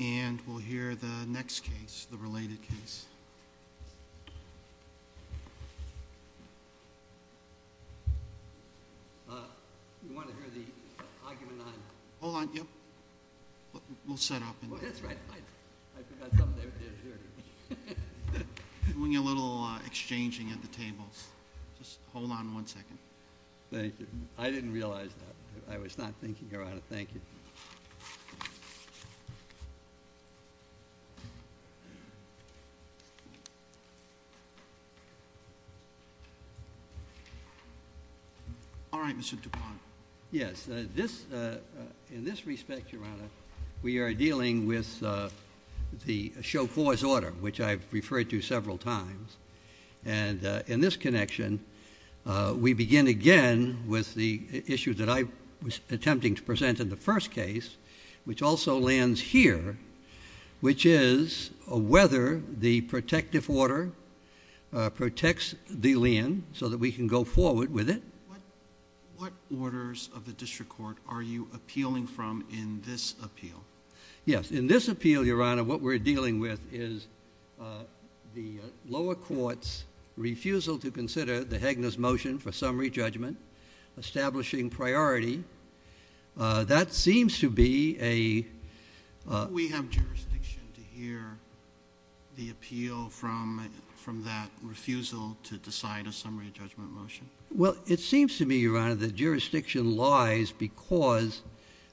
And we'll hear the next case, the related case. You want to hear the argument on... Hold on, yeah. We'll set up. That's right. I forgot something there. Doing a little exchanging at the tables. Just hold on one second. Thank you. I didn't realize that. I was not thinking around it. Thank you. All right, Mr. DuPont. Yes, in this respect, Your Honor, we are dealing with the chauffeur's order, which I've referred to several times. And in this connection, we begin again with the issue that I was attempting to present in the first case, which also lands here, which is whether the protective order protects the land so that we can go forward with it. What orders of the district court are you appealing from in this appeal? Yes, in this appeal, Your Honor, what we're dealing with is the lower court's refusal to consider the Hegna's motion for summary judgment, establishing priority. That seems to be a... We have jurisdiction to hear the appeal from that refusal to decide a summary judgment motion. Well, it seems to me, Your Honor, the jurisdiction lies because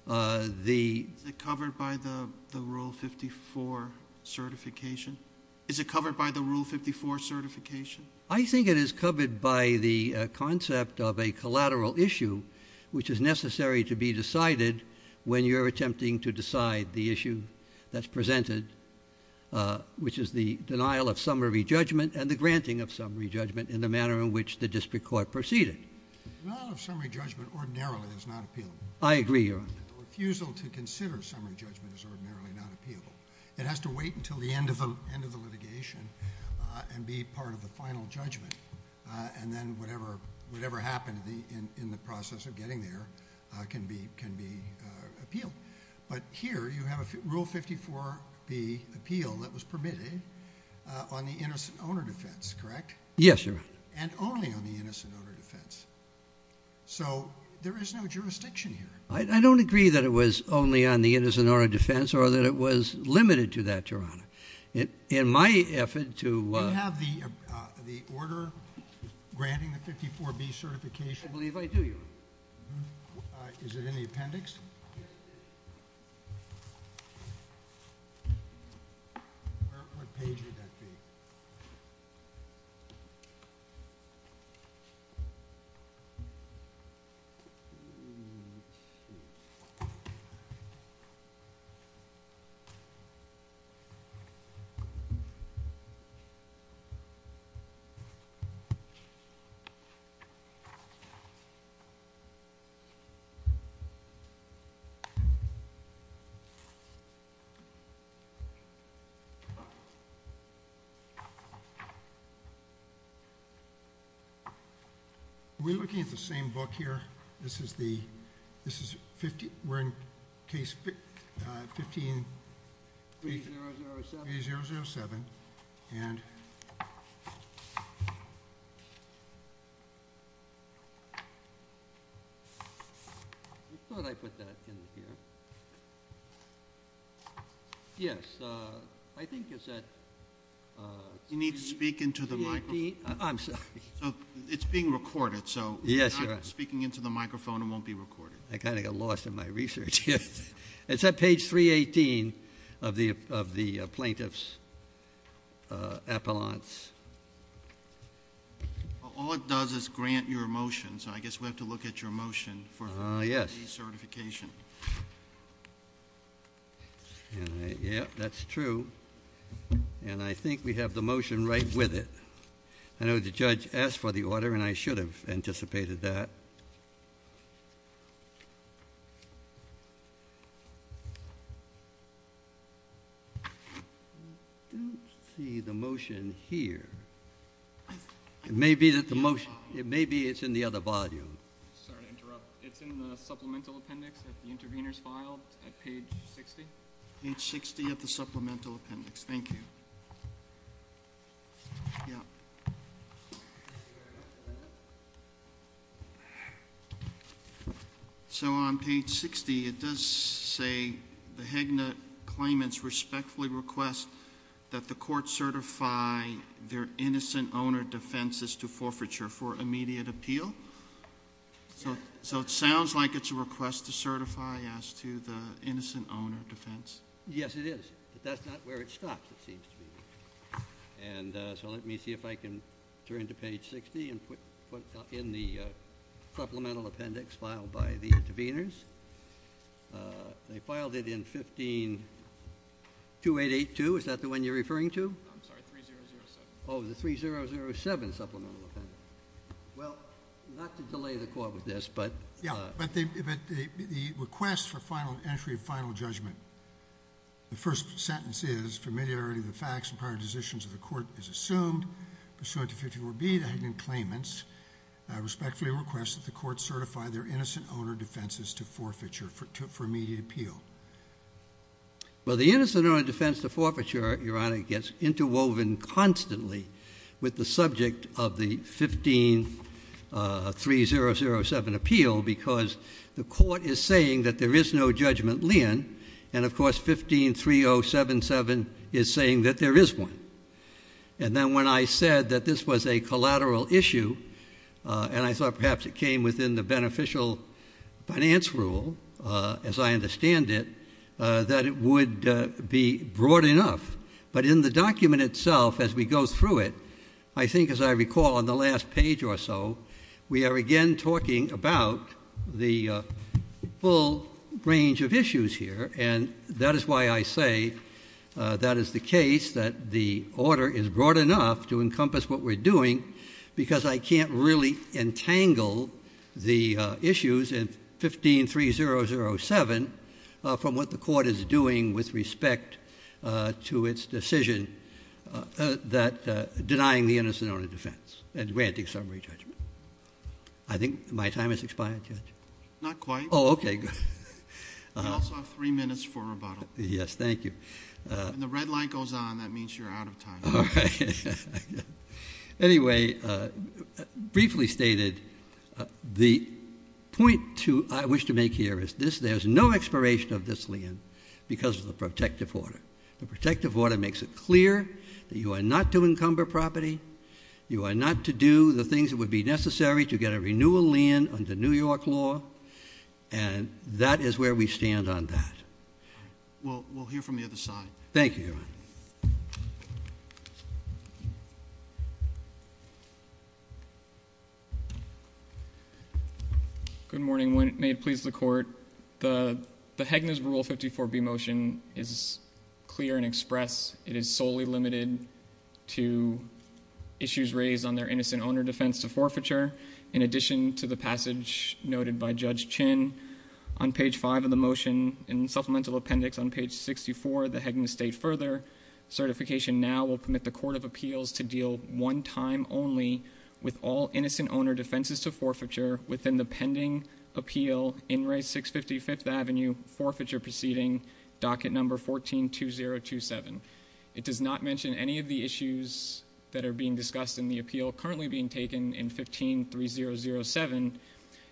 the... Is it covered by the Rule 54 certification? I think it is covered by the concept of a collateral issue, which is necessary to be decided when you're attempting to decide the issue that's presented, which is the denial of summary judgment and the granting of summary judgment in the manner in which the district court proceeded. Denial of summary judgment ordinarily is not appealable. I agree, Your Honor. The refusal to consider summary judgment is ordinarily not appealable. It has to wait until the end of the litigation and be part of the final judgment, and then whatever happened in the process of getting there can be appealed. But here you have a Rule 54b appeal that was permitted on the innocent owner defense, correct? Yes, Your Honor. And only on the innocent owner defense. So there is no jurisdiction here. I don't agree that it was only on the innocent owner defense or that it was limited to that, Your Honor. In my effort to... Do you have the order granting the 54b certification? I believe I do, Your Honor. Is it in the appendix? Yes. What page would that be? We're looking at the same book here. This is the... This is 15... We're in case 15... 3007. 3007, and... I thought I put that in here. Yes, I think it's at... You need to speak into the microphone. I'm sorry. It's being recorded, so... Yes, Your Honor. Speaking into the microphone, it won't be recorded. I kind of got lost in my research. It's at page 318 of the plaintiff's appellant. All it does is grant your motion, so I guess we have to look at your motion for... Yes.... certification. Yes, that's true. And I think we have the motion right with it. I know the judge asked for the order, and I should have anticipated that. I don't see the motion here. It may be that the motion... It may be it's in the other volume. Sorry to interrupt. It's in the supplemental appendix at the intervener's file at page 60? Page 60 of the supplemental appendix. Thank you. Yeah. So, on page 60, it does say, the Hagnut claimants respectfully request that the court certify their innocent owner defenses to forfeiture for immediate appeal? Yes. So, it sounds like it's a request to certify as to the innocent owner defense. Yes, it is. But that's not where it stops, it seems to me. And so, let me see if I can turn to page 60 and put in the supplemental appendix filed by the interveners. They filed it in 152882. Is that the one you're referring to? I'm sorry, 3007. Oh, the 3007 supplemental appendix. Well, not to delay the court with this, but... Yeah, but the request for entry of final judgment, the first sentence is, familiarity of the facts and prior decisions of the court is assumed. Pursuant to 54B, the Hagnut claimants respectfully request that the court certify their innocent owner defenses to forfeiture for immediate appeal. Well, the innocent owner defense to forfeiture, Your Honor, gets interwoven constantly with the subject of the 153007 appeal because the court is saying that there is no judgment lien, and of course 153077 is saying that there is one. And then when I said that this was a collateral issue, and I thought perhaps it came within the beneficial finance rule, as I understand it, that it would be broad enough. But in the document itself, as we go through it, I think as I recall on the last page or so, we are again talking about the full range of issues here, and that is why I say that is the case, that the order is broad enough to encompass what we're doing, because I can't really entangle the issues in 153007 from what the court is doing with respect to its decision denying the innocent owner defense and granting summary judgment. I think my time has expired, Judge? Not quite. Oh, okay. You also have three minutes for rebuttal. Yes, thank you. When the red light goes on, that means you're out of time. All right. Anyway, briefly stated, the point I wish to make here is there is no expiration of this lien because of the protective order. The protective order makes it clear that you are not to encumber property, you are not to do the things that would be necessary to get a renewal lien under New York law, and that is where we stand on that. All right. We'll hear from the other side. Thank you, Your Honor. Good morning. May it please the Court, the Hegner's Rule 54b motion is clear and express. It is solely limited to issues raised on their innocent owner defense to forfeiture. In addition to the passage noted by Judge Chin on page 5 of the motion in supplemental appendix on page 64, the Hegner's state further, certification now will permit the court of appeals to deal one time only with all innocent owner defenses to forfeiture within the pending appeal in race 655th Avenue forfeiture proceeding, docket number 142027. It does not mention any of the issues that are being discussed in the appeal currently being taken in 153007.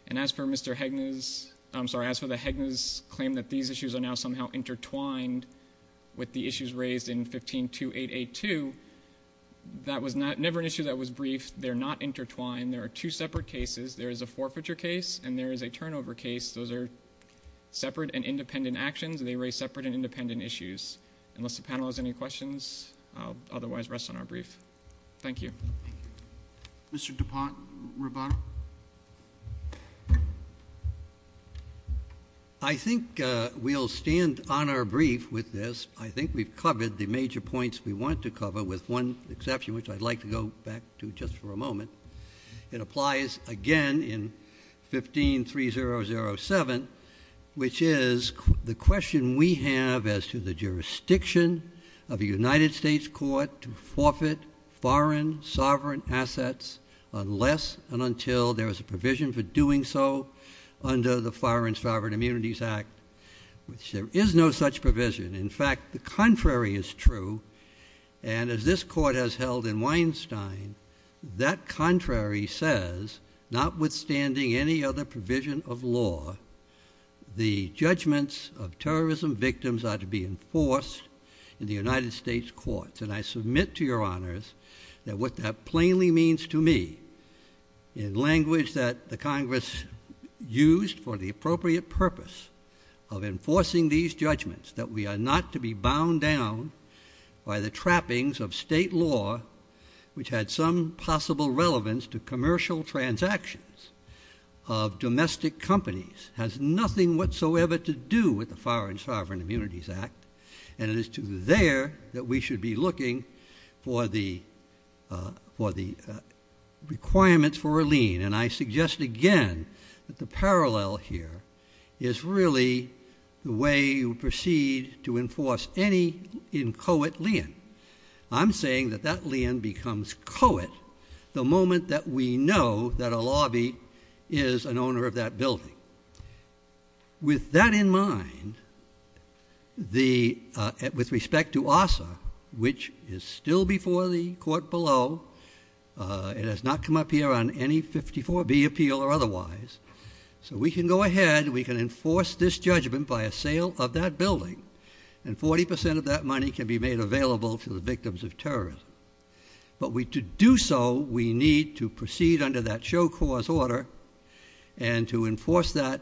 And as for Mr. Hegner's, I'm sorry, as for the Hegner's claim that these issues are now somehow intertwined with the issues raised in 152882, that was never an issue that was brief. They're not intertwined. There are two separate cases. There is a forfeiture case and there is a turnover case. Those are separate and independent actions. They raise separate and independent issues. Unless the panel has any questions, I'll otherwise rest on our brief. Thank you. Mr. DuPont-Rubato? I think we'll stand on our brief with this. I think we've covered the major points we want to cover with one exception, which I'd like to go back to just for a moment. It applies again in 153007, which is the question we have as to the jurisdiction of a United States court to forfeit foreign sovereign assets unless and until there is a provision for doing so under the Foreign Sovereign Immunities Act, which there is no such provision. In fact, the contrary is true. As this court has held in Weinstein, that contrary says, notwithstanding any other provision of law, the judgments of terrorism victims are to be enforced in the United States courts. I submit to your honors that what that plainly means to me, in language that the Congress used for the appropriate purpose of enforcing these judgments, that we are not to be bound down by the trappings of state law, which had some possible relevance to commercial transactions of domestic companies, has nothing whatsoever to do with the Foreign Sovereign Immunities Act, and it is to there that we should be looking for the requirements for a lien. And I suggest again that the parallel here is really the way you proceed to enforce any coet lien. I'm saying that that lien becomes coet the moment that we know that a lobby is an owner of that building. With that in mind, with respect to ARSA, which is still before the court below, it has not come up here on any 54B appeal or otherwise. So we can go ahead, we can enforce this judgment by a sale of that building, and 40 percent of that money can be made available to the victims of terrorism. But to do so, we need to proceed under that show cause order, and to enforce that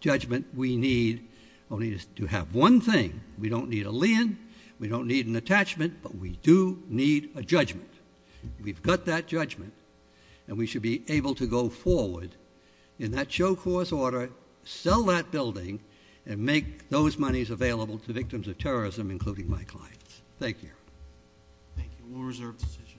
judgment, we need only to have one thing. We don't need a lien, we don't need an attachment, but we do need a judgment. We've got that judgment, and we should be able to go forward in that show cause order, sell that building, and make those monies available to victims of terrorism, including my clients. Thank you. Thank you. We'll reserve the decision.